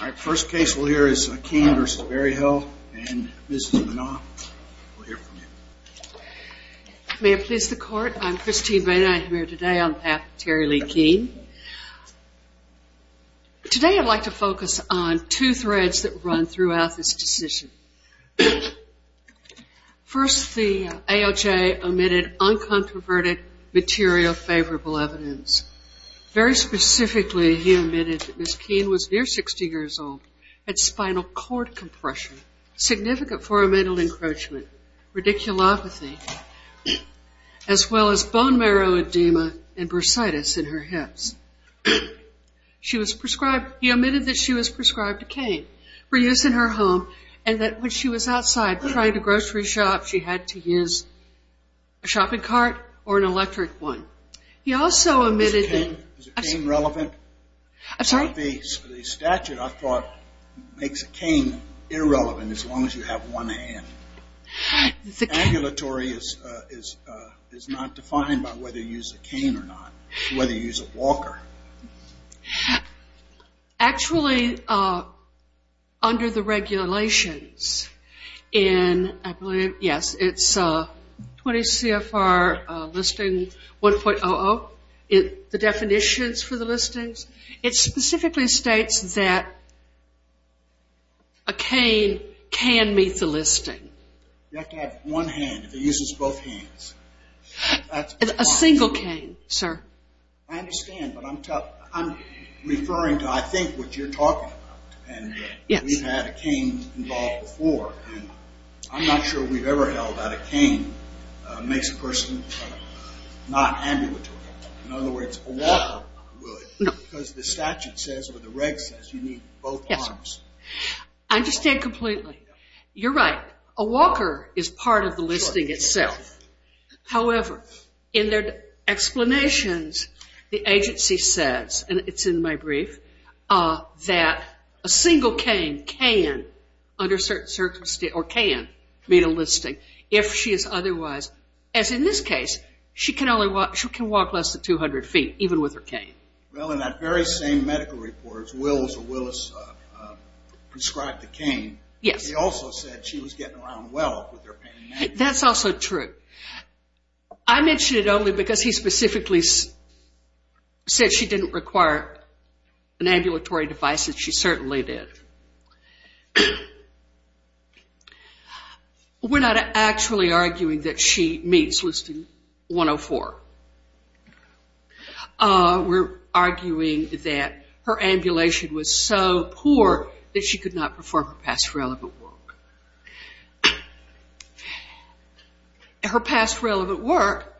Our first case we'll hear is Keene v. Berryhill, and Mrs. Manon, we'll hear from you. May it please the court, I'm Christine Boehner, I'm here today on behalf of Terry Lee Keene. Today I'd like to focus on two threads that run throughout this decision. First, the AOJ omitted uncontroverted material favorable evidence. Very specifically, he omitted that Mrs. Keene was near 60 years old, had spinal cord compression, significant for a mental encroachment, radiculopathy, as well as bone marrow edema and bursitis in her hips. He omitted that she was prescribed a cane for use in her home, and that when she was outside trying to grocery shop, she had to use a shopping cart or an electric one. He also omitted that... Is a cane relevant? I'm sorry? The statute, I thought, makes a cane irrelevant as long as you have one hand. The cane... Agulatory is not defined by whether you use a cane or not, whether you use a walker. Actually, under the regulations in, I believe, yes, it's 20 CFR listing 1.00, the definitions for the listings, it specifically states that a cane can meet the listing. You have to have one hand if it uses both hands. A single cane, sir. I understand, but I'm referring to, I think, what you're talking about. We've had a cane involved before. I'm not sure we've ever held that a cane makes a person not ambulatory. In other words, a walker would because the statute says or the reg says you need both arms. I understand completely. You're right. A walker is part of the listing itself. However, in their explanations, the agency says, and it's in my brief, that a single cane can meet a listing if she is otherwise, as in this case, she can walk less than 200 feet even with her cane. Well, in that very same medical report, Willis prescribed the cane. Yes. He also said she was getting around well with her pain management. That's also true. I mention it only because he specifically said she didn't require an ambulatory device, and she certainly did. We're not actually arguing that she meets listing 104. We're arguing that her ambulation was so poor that she could not perform her past relevant work. Her past relevant work,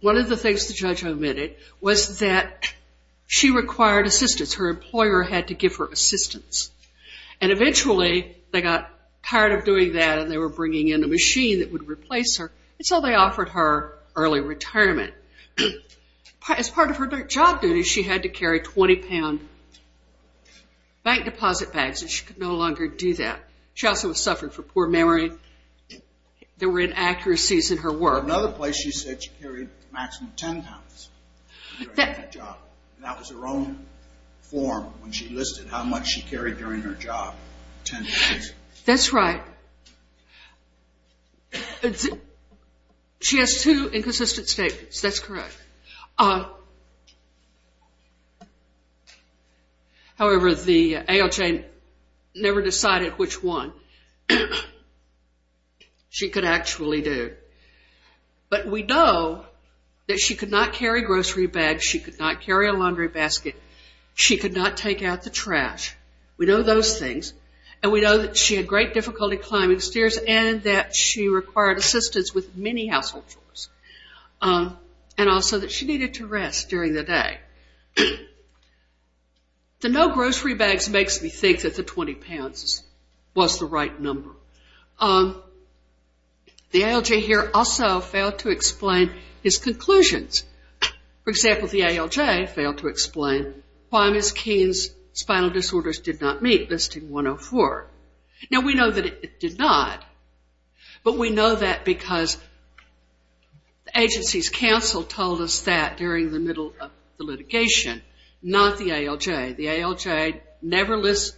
one of the things the judge omitted was that she required assistance. Her employer had to give her assistance. And eventually, they got tired of doing that, and they were bringing in a machine that would replace her. And so they offered her early retirement. As part of her job duties, she had to carry 20-pound bank deposit bags, and she could no longer do that. She also suffered from poor memory. There were inaccuracies in her work. Another place she said she carried a maximum of 10 pounds during that job. That was her own form when she listed how much she carried during her job, 10 pounds. That's right. She has two inconsistent statements. That's correct. However, the AOJ never decided which one she could actually do. But we know that she could not carry grocery bags. She could not carry a laundry basket. She could not take out the trash. We know those things. And we know that she had great difficulty climbing stairs and that she required assistance with many household chores, and also that she needed to rest during the day. The no grocery bags makes me think that the 20 pounds was the right number. The AOJ here also failed to explain his conclusions. For example, the AOJ failed to explain why Ms. Keene's spinal disorders did not meet, Listing 104. Now, we know that it did not, but we know that because the agency's counsel told us that during the middle of the litigation, not the AOJ. The AOJ never listed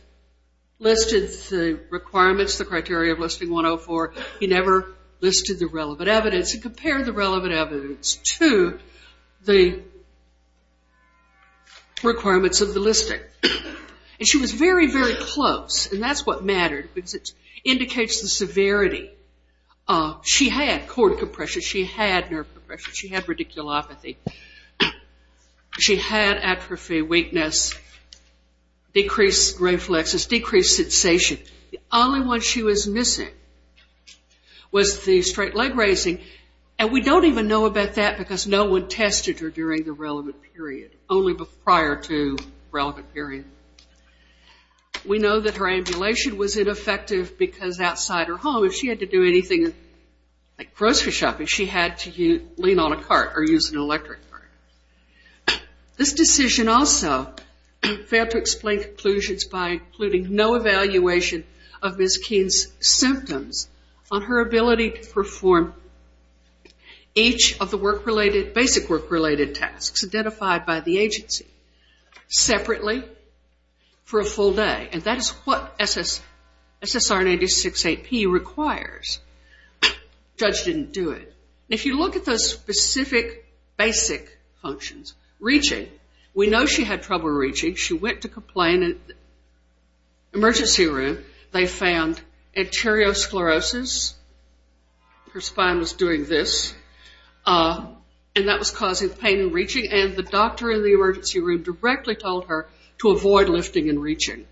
the requirements, the criteria of Listing 104. He never listed the relevant evidence. He compared the relevant evidence to the requirements of the listing. And she was very, very close, and that's what mattered, because it indicates the severity. She had cord compression. She had nerve compression. She had radiculopathy. She had atrophy, weakness, decreased reflexes, decreased sensation. The only one she was missing was the straight leg raising, and we don't even know about that because no one tested her during the relevant period, only prior to the relevant period. We know that her ambulation was ineffective because outside her home, if she had to do anything like grocery shopping, she had to lean on a cart or use an electric cart. This decision also failed to explain conclusions by including no evaluation of Ms. Keene's symptoms on her ability to perform each of the basic work-related tasks identified by the agency separately for a full day, and that is what SSR 1986-8P requires. The judge didn't do it. If you look at those specific basic functions, reaching, we know she had trouble reaching. She went to complain in the emergency room. They found arteriosclerosis. Her spine was doing this, and that was causing pain in reaching, and the doctor in the emergency room directly told her to avoid lifting and reaching.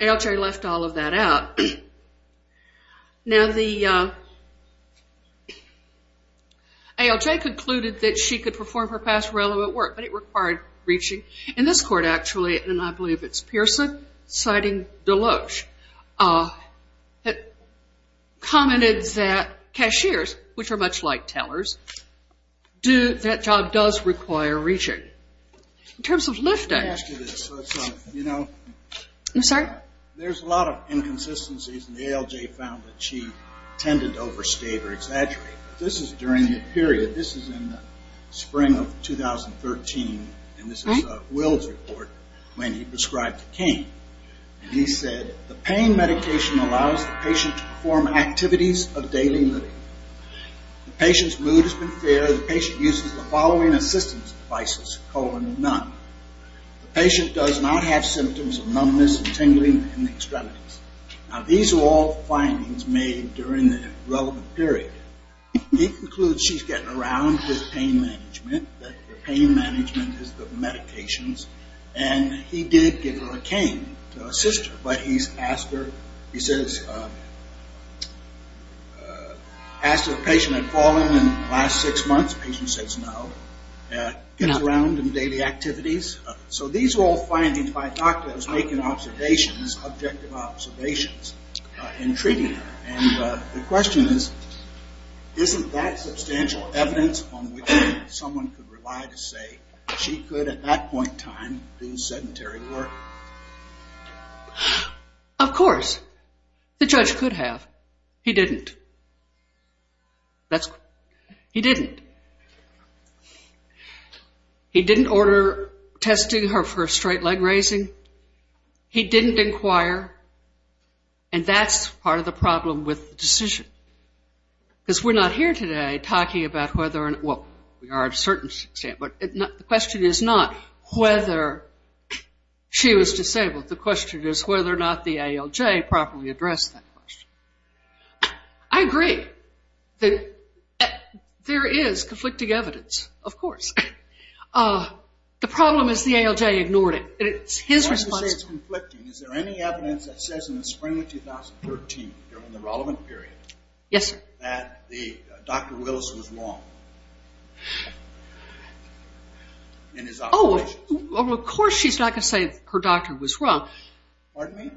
ALJ left all of that out. Now the ALJ concluded that she could perform her past relevant work, but it required reaching. In this court, actually, and I believe it's Pearson citing Deloach, it commented that cashiers, which are much like tellers, that job does require reaching. In terms of lifting. There's a lot of inconsistencies, and the ALJ found that she tended to overstate or exaggerate. This is during the period. This is in the spring of 2013, and this is Will's report when he prescribed to Kane. He said, the pain medication allows the patient to perform activities of daily living. The patient's mood has been fair. The patient uses the following assistance devices, colon, and nun. The patient does not have symptoms of numbness and tingling in the extremities. Now these are all findings made during the relevant period. He concludes she's getting around with pain management, that the pain management is the medications, and he did give her a cane to assist her, but he's asked her, he says, asked if the patient had fallen in the last six months. The patient says no. Gets around in daily activities. So these are all findings by doctors making observations, objective observations, in treating her. And the question is, isn't that substantial evidence on which someone could rely to say she could at that point in time do sedentary work? Of course. The judge could have. He didn't. He didn't. He didn't order testing of her for straight leg raising. He didn't inquire. And that's part of the problem with the decision. Because we're not here today talking about whether or not, well, we are to a certain extent, but the question is not whether she was disabled. The question is whether or not the ALJ properly addressed that question. I agree that there is conflicting evidence, of course. The problem is the ALJ ignored it. It's his responsibility. The problem is conflicting. Is there any evidence that says in the spring of 2013, during the relevant period, that Dr. Willis was wrong in his observations? Of course she's not going to say her doctor was wrong. Pardon me?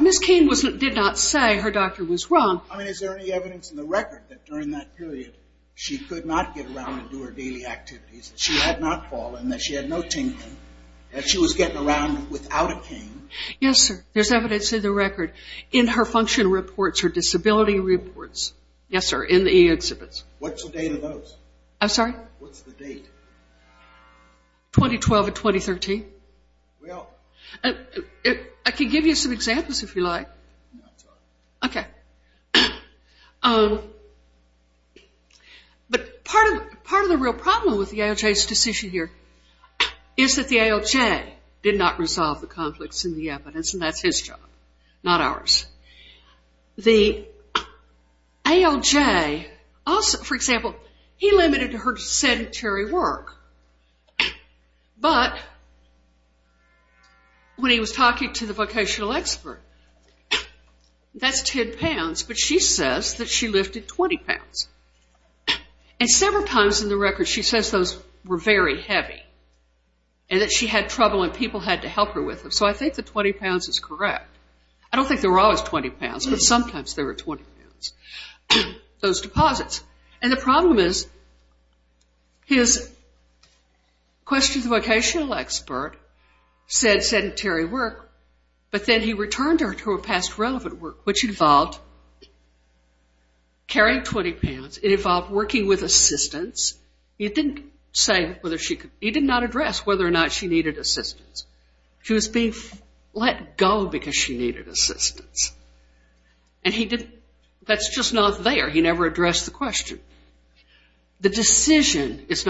Ms. Keene did not say her doctor was wrong. I mean, is there any evidence in the record that during that period she could not get around and do her daily activities, that she had not fallen, that she had no tingling, that she was getting around without a tingling? Yes, sir. There's evidence in the record. In her function reports, her disability reports. Yes, sir, in the eExhibits. What's the date of those? I'm sorry? What's the date? 2012 and 2013. Well. I can give you some examples if you like. No, I'm sorry. Okay. But part of the real problem with the ALJ's decision here is that the ALJ did not resolve the conflicts in the evidence, and that's his job, not ours. The ALJ also, for example, he limited her to sedentary work, but when he was talking to the vocational expert, that's 10 pounds, but she says that she lifted 20 pounds. And several times in the record she says those were very heavy and that she had trouble and people had to help her with them. So I think the 20 pounds is correct. I don't think there were always 20 pounds, but sometimes there were 20 pounds. Those deposits. And the problem is his question to the vocational expert said sedentary work, but then he returned her to her past relevant work, which involved carrying 20 pounds. It involved working with assistants. He did not address whether or not she needed assistance. She was being let go because she needed assistance, and that's just not there. He never addressed the question. The decision is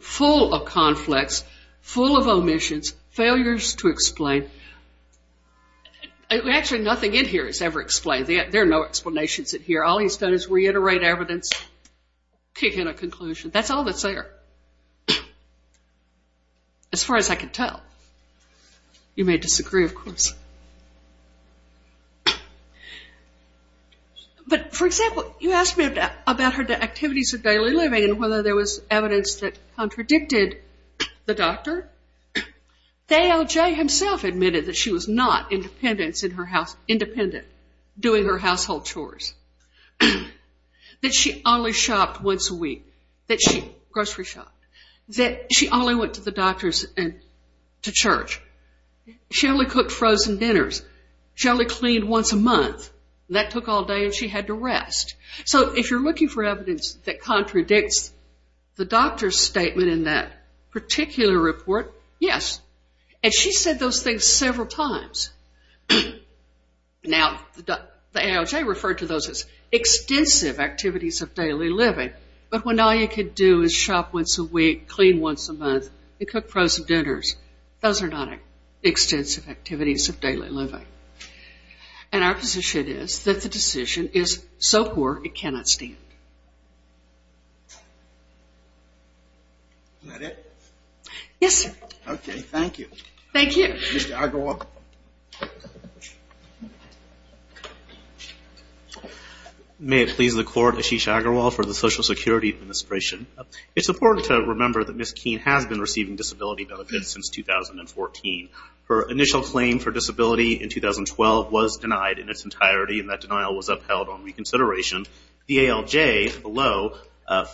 full of conflicts, full of omissions, failures to explain. Actually, nothing in here is ever explained. There are no explanations in here. All he's done is reiterate evidence, kick in a conclusion. That's all that's there as far as I can tell. You may disagree, of course. But, for example, you asked me about her activities of daily living and whether there was evidence that contradicted the doctor. The ALJ himself admitted that she was not independent doing her household chores, that she only shopped once a week, that she grocery shopped, that she only went to the doctors and to church. She only cooked frozen dinners. She only cleaned once a month. That took all day, and she had to rest. So if you're looking for evidence that contradicts the doctor's statement in that particular report, yes. And she said those things several times. Now, the ALJ referred to those as extensive activities of daily living, but when all you could do is shop once a week, clean once a month, and cook frozen dinners, those are not extensive activities of daily living. And our position is that the decision is so poor it cannot stand. Is that it? Yes, sir. Okay, thank you. Thank you. Ms. Agarwal. May it please the Court, Ashish Agarwal for the Social Security Administration. It's important to remember that Ms. Keene has been receiving disability benefits since 2014. Her initial claim for disability in 2012 was denied in its entirety, and that denial was upheld on reconsideration. The ALJ below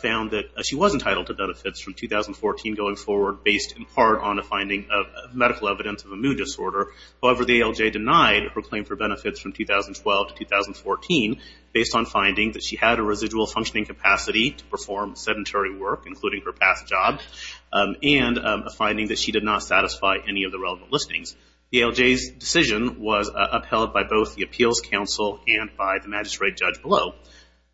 found that she was entitled to benefits from 2014 going forward, based in part on a finding of medical evidence of a mood disorder. However, the ALJ denied her claim for benefits from 2012 to 2014 based on finding that she had a residual functioning capacity to perform sedentary work, including her past job, and a finding that she did not satisfy any of the relevant listings. The ALJ's decision was upheld by both the Appeals Council and by the magistrate judge below.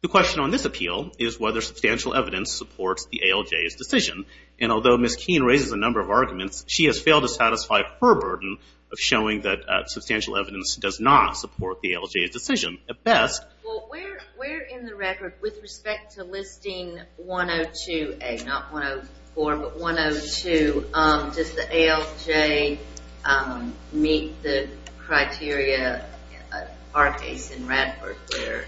The question on this appeal is whether substantial evidence supports the ALJ's decision. And although Ms. Keene raises a number of arguments, she has failed to satisfy her burden of showing that substantial evidence does not support the ALJ's decision. At best. Well, where in the record, with respect to listing 102A, not 104, but 102, does the ALJ meet the criteria, in our case in Radford, where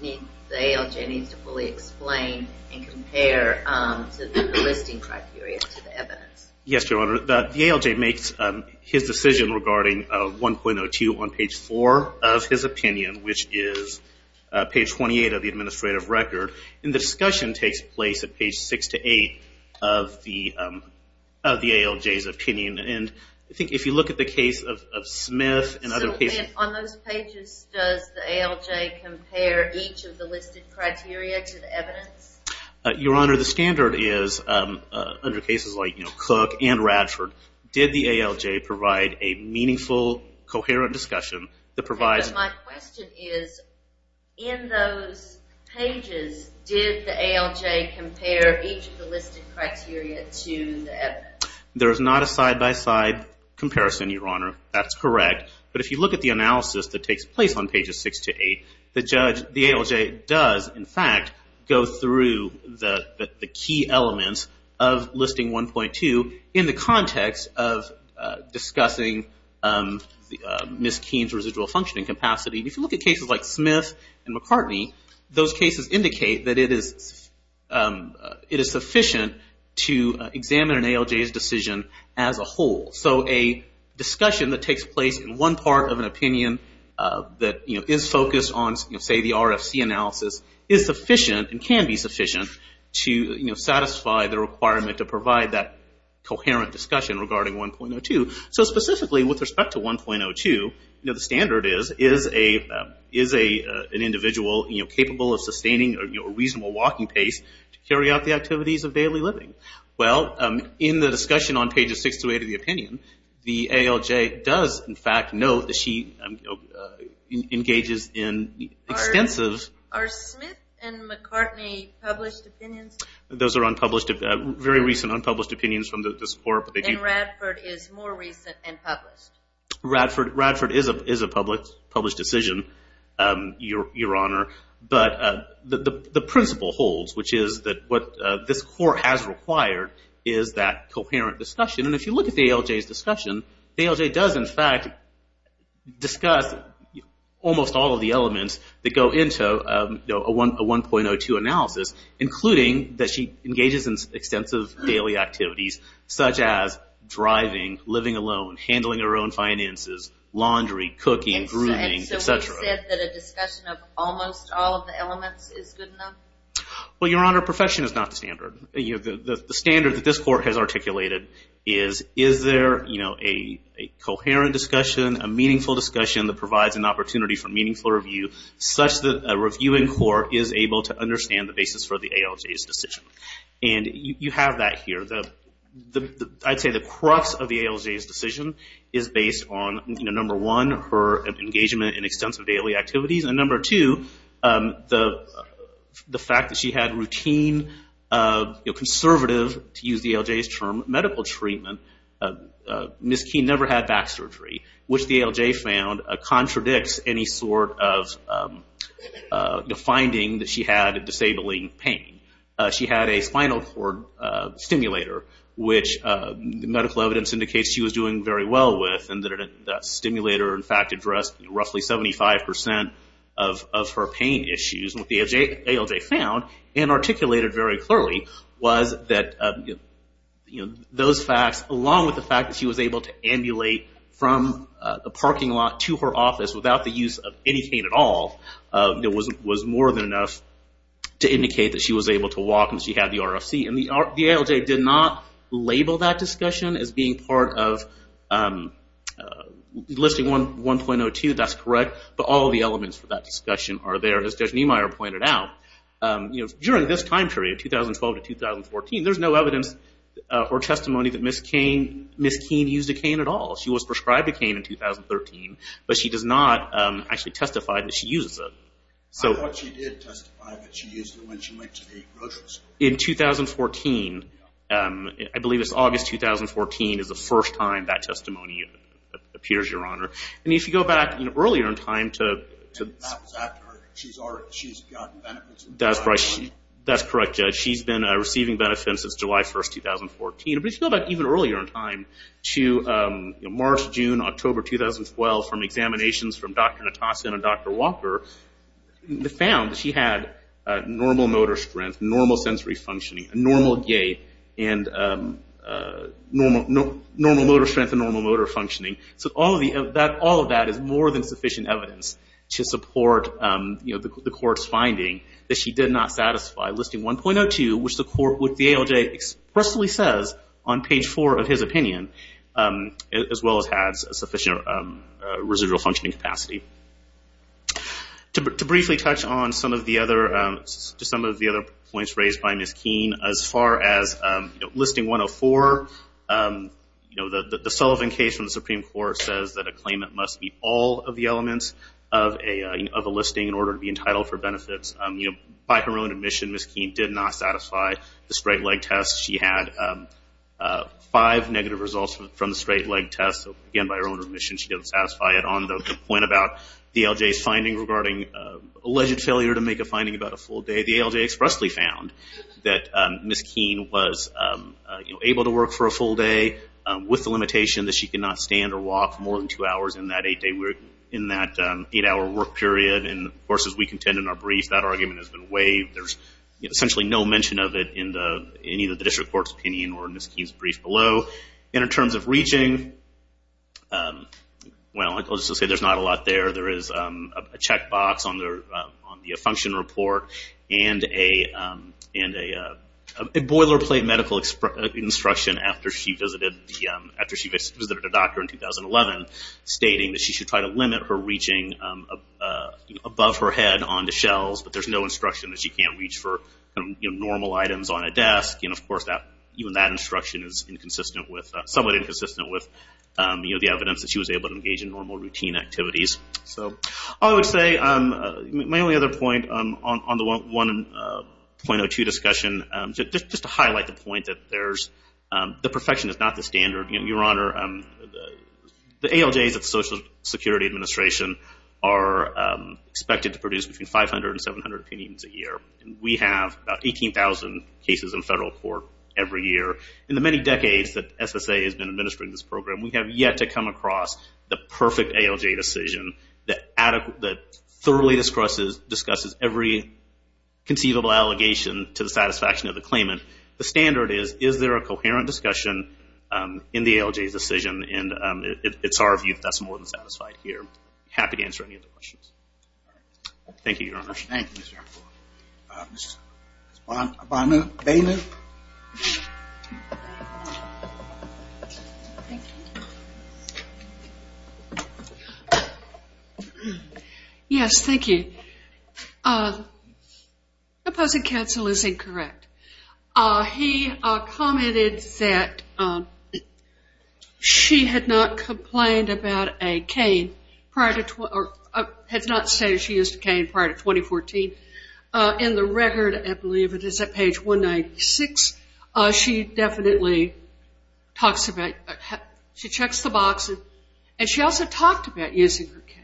the ALJ needs to fully explain and compare the listing criteria to the evidence? Yes, Your Honor. The ALJ makes his decision regarding 1.02 on page 4 of his opinion, which is page 28 of the administrative record. And the discussion takes place at page 6 to 8 of the ALJ's opinion. And I think if you look at the case of Smith and other cases... Did the ALJ compare each of the listed criteria to the evidence? Your Honor, the standard is, under cases like Cook and Radford, did the ALJ provide a meaningful, coherent discussion that provides... But my question is, in those pages, did the ALJ compare each of the listed criteria to the evidence? There is not a side-by-side comparison, Your Honor. That's correct. But if you look at the analysis that takes place on pages 6 to 8, the ALJ does, in fact, go through the key elements of listing 1.02 in the context of discussing Ms. Keene's residual functioning capacity. If you look at cases like Smith and McCartney, those cases indicate that it is sufficient to examine an ALJ's decision as a whole. So a discussion that takes place in one part of an opinion that is focused on, say, the RFC analysis, is sufficient and can be sufficient to satisfy the requirement to provide that coherent discussion regarding 1.02. So specifically, with respect to 1.02, the standard is, is an individual capable of sustaining a reasonable walking pace to carry out the activities of daily living? Well, in the discussion on pages 6 to 8 of the opinion, the ALJ does, in fact, note that she engages in extensive... Are Smith and McCartney published opinions? Those are unpublished, very recent unpublished opinions from this Court. And Radford is more recent and published? Radford is a published decision, Your Honor. But the principle holds, which is that what this Court has required is that coherent discussion. And if you look at the ALJ's discussion, the ALJ does, in fact, discuss almost all of the elements that go into a 1.02 analysis, including that she engages in extensive daily activities, such as driving, living alone, handling her own finances, laundry, cooking, grooming, et cetera. You said that a discussion of almost all of the elements is good enough? Well, Your Honor, profession is not the standard. The standard that this Court has articulated is, is there a coherent discussion, a meaningful discussion, that provides an opportunity for meaningful review, such that a review in court is able to understand the basis for the ALJ's decision? And you have that here. I'd say the crux of the ALJ's decision is based on, number one, her engagement in extensive daily activities, and number two, the fact that she had routine, conservative, to use the ALJ's term, medical treatment. Ms. Keene never had back surgery, which the ALJ found contradicts any sort of finding that she had disabling pain. She had a spinal cord stimulator, which medical evidence indicates she was doing very well with, and that stimulator, in fact, addressed roughly 75% of her pain issues. What the ALJ found and articulated very clearly was that those facts, along with the fact that she was able to ambulate from the parking lot to her office without the use of any pain at all, was more than enough to indicate that she was able to walk and she had the RFC. The ALJ did not label that discussion as being part of listing 1.02. That's correct, but all of the elements for that discussion are there, as Judge Niemeyer pointed out. During this time period, 2012 to 2014, there's no evidence or testimony that Ms. Keene used a cane at all. She was prescribed a cane in 2013, but she does not actually testify that she uses it. I thought she did testify that she used it when she went to the grocery store. In 2014, I believe it's August 2014, is the first time that testimony appears, Your Honor. And if you go back earlier in time to— That was after she's gotten benefits. That's correct, Judge. She's been receiving benefits since July 1, 2014. But if you go back even earlier in time to March, June, October 2012, from examinations from Dr. Natasin and Dr. Walker, they found that she had normal motor strength, normal sensory functioning, normal gait, and normal motor strength and normal motor functioning. So all of that is more than sufficient evidence to support the court's finding that she did not satisfy listing 1.02, which the ALJ expressly says on page 4 of his opinion, as well as has sufficient residual functioning capacity. To briefly touch on some of the other points raised by Ms. Keene, as far as listing 1.04, the Sullivan case from the Supreme Court says that a claimant must meet all of the elements of a listing in order to be entitled for benefits. By her own admission, Ms. Keene did not satisfy the straight-leg test. She had five negative results from the straight-leg test. Again, by her own admission, she didn't satisfy it. On the point about the ALJ's finding regarding alleged failure to make a finding about a full day, the ALJ expressly found that Ms. Keene was able to work for a full day with the limitation that she could not stand or walk more than two hours in that eight-hour work period. Of course, as we contend in our brief, that argument has been waived. There's essentially no mention of it in either the district court's opinion or Ms. Keene's brief below. In terms of reaching, I'll just say there's not a lot there. There is a checkbox on the function report and a boilerplate medical instruction after she visited a doctor in 2011 stating that she should try to limit her reaching above her head onto shelves, but there's no instruction that she can't reach for normal items on a desk. Of course, even that instruction is somewhat inconsistent with the evidence that she was able to engage in normal routine activities. I would say my only other point on the 1.02 discussion, just to highlight the point that the perfection is not the standard. Your Honor, the ALJs of the Social Security Administration are expected to produce between 500 and 700 opinions a year. We have about 18,000 cases in federal court every year. In the many decades that SSA has been administering this program, we have yet to come across the perfect ALJ decision that thoroughly discusses every conceivable allegation to the satisfaction of the claimant. The standard is, is there a coherent discussion in the ALJ's decision, and it's our view that that's more than satisfied here. Happy to answer any other questions. Thank you, Your Honor. Thank you, Mr. Erfurt. Ms. Bainer. Yes, thank you. Opposing counsel is incorrect. He commented that she had not complained about a cane prior to, had not stated she used a cane prior to 2014. In the record, I believe it is at page 196, she definitely talks about, she checks the box, and she also talked about using her cane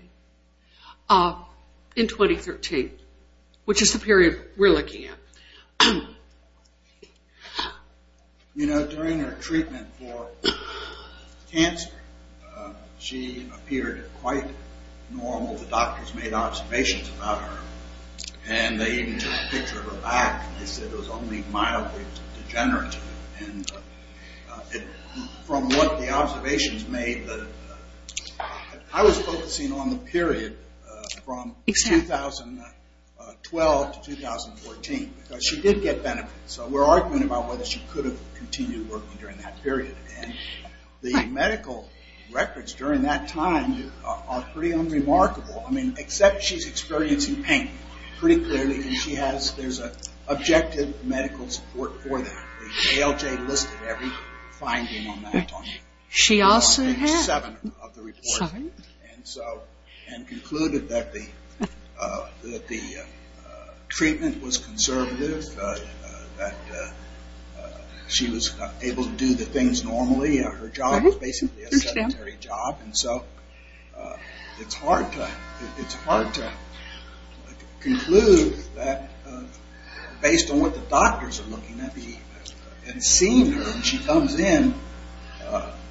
in 2013, which is the period we're looking at. You know, during her treatment for cancer, she appeared quite normal. The doctors made observations about her, and they even took a picture of her back. They said it was only mildly degenerative, and from what the observations made, I was focusing on the period from 2012 to 2014, because she did get benefits. So we're arguing about whether she could have continued working during that period, and the medical records during that time are pretty unremarkable. I mean, except she's experiencing pain pretty clearly, and she has, there's objective medical support for that. The ALJ listed every finding on that. She also had. It was on page 7 of the report. And so, and concluded that the treatment was conservative, that she was able to do the things normally. Her job was basically a sedentary job. And so it's hard to conclude that based on what the doctors are looking at, and seeing her, and she comes in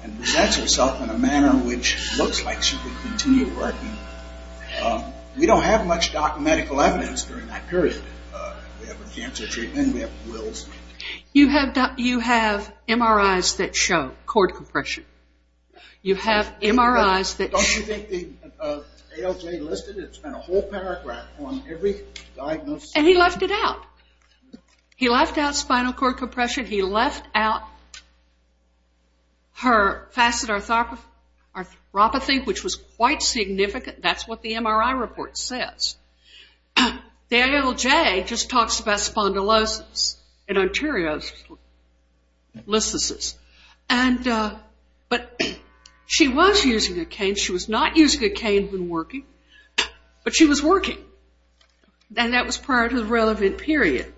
and presents herself in a manner which looks like she could continue working. We don't have much medical evidence during that period. We have a cancer treatment. We have wills. You have MRIs that show cord compression. You have MRIs that show. Don't you think the ALJ listed, it's been a whole paragraph on every diagnosis. And he left it out. He left out spinal cord compression. He left out her facet arthropathy, which was quite significant. That's what the MRI report says. The ALJ just talks about spondylosis and arteriosclerosis. But she was using a cane. She was not using a cane when working, but she was working. And that was prior to the relevant period.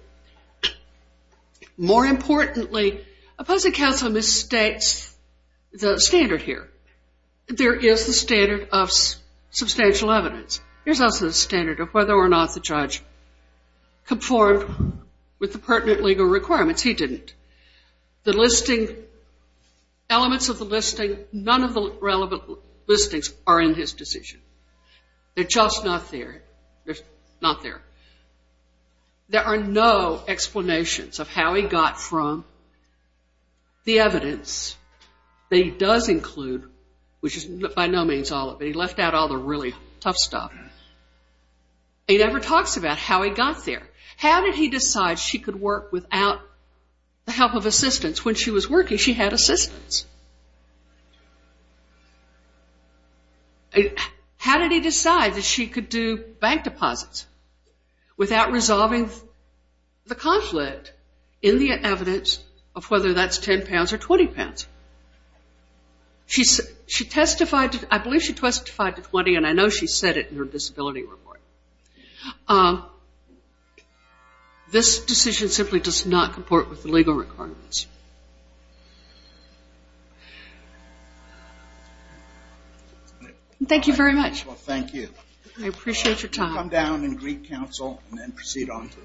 More importantly, opposing counsel mistakes the standard here. There is the standard of substantial evidence. There's also the standard of whether or not the judge conformed with the pertinent legal requirements. He didn't. The listing, elements of the listing, none of the relevant listings are in his decision. They're just not there. They're not there. There are no explanations of how he got from the evidence that he does include, which is by no means all of it. He left out all the really tough stuff. He never talks about how he got there. How did he decide she could work without the help of assistance? When she was working, she had assistance. How did he decide that she could do bank deposits without resolving the conflict in the evidence of whether that's 10 pounds or 20 pounds? I believe she testified to 20, and I know she said it in her disability report. This decision simply does not comport with the legal requirements. Thank you very much. Well, thank you. I appreciate your time. Come down and greet counsel and then proceed on to the next case.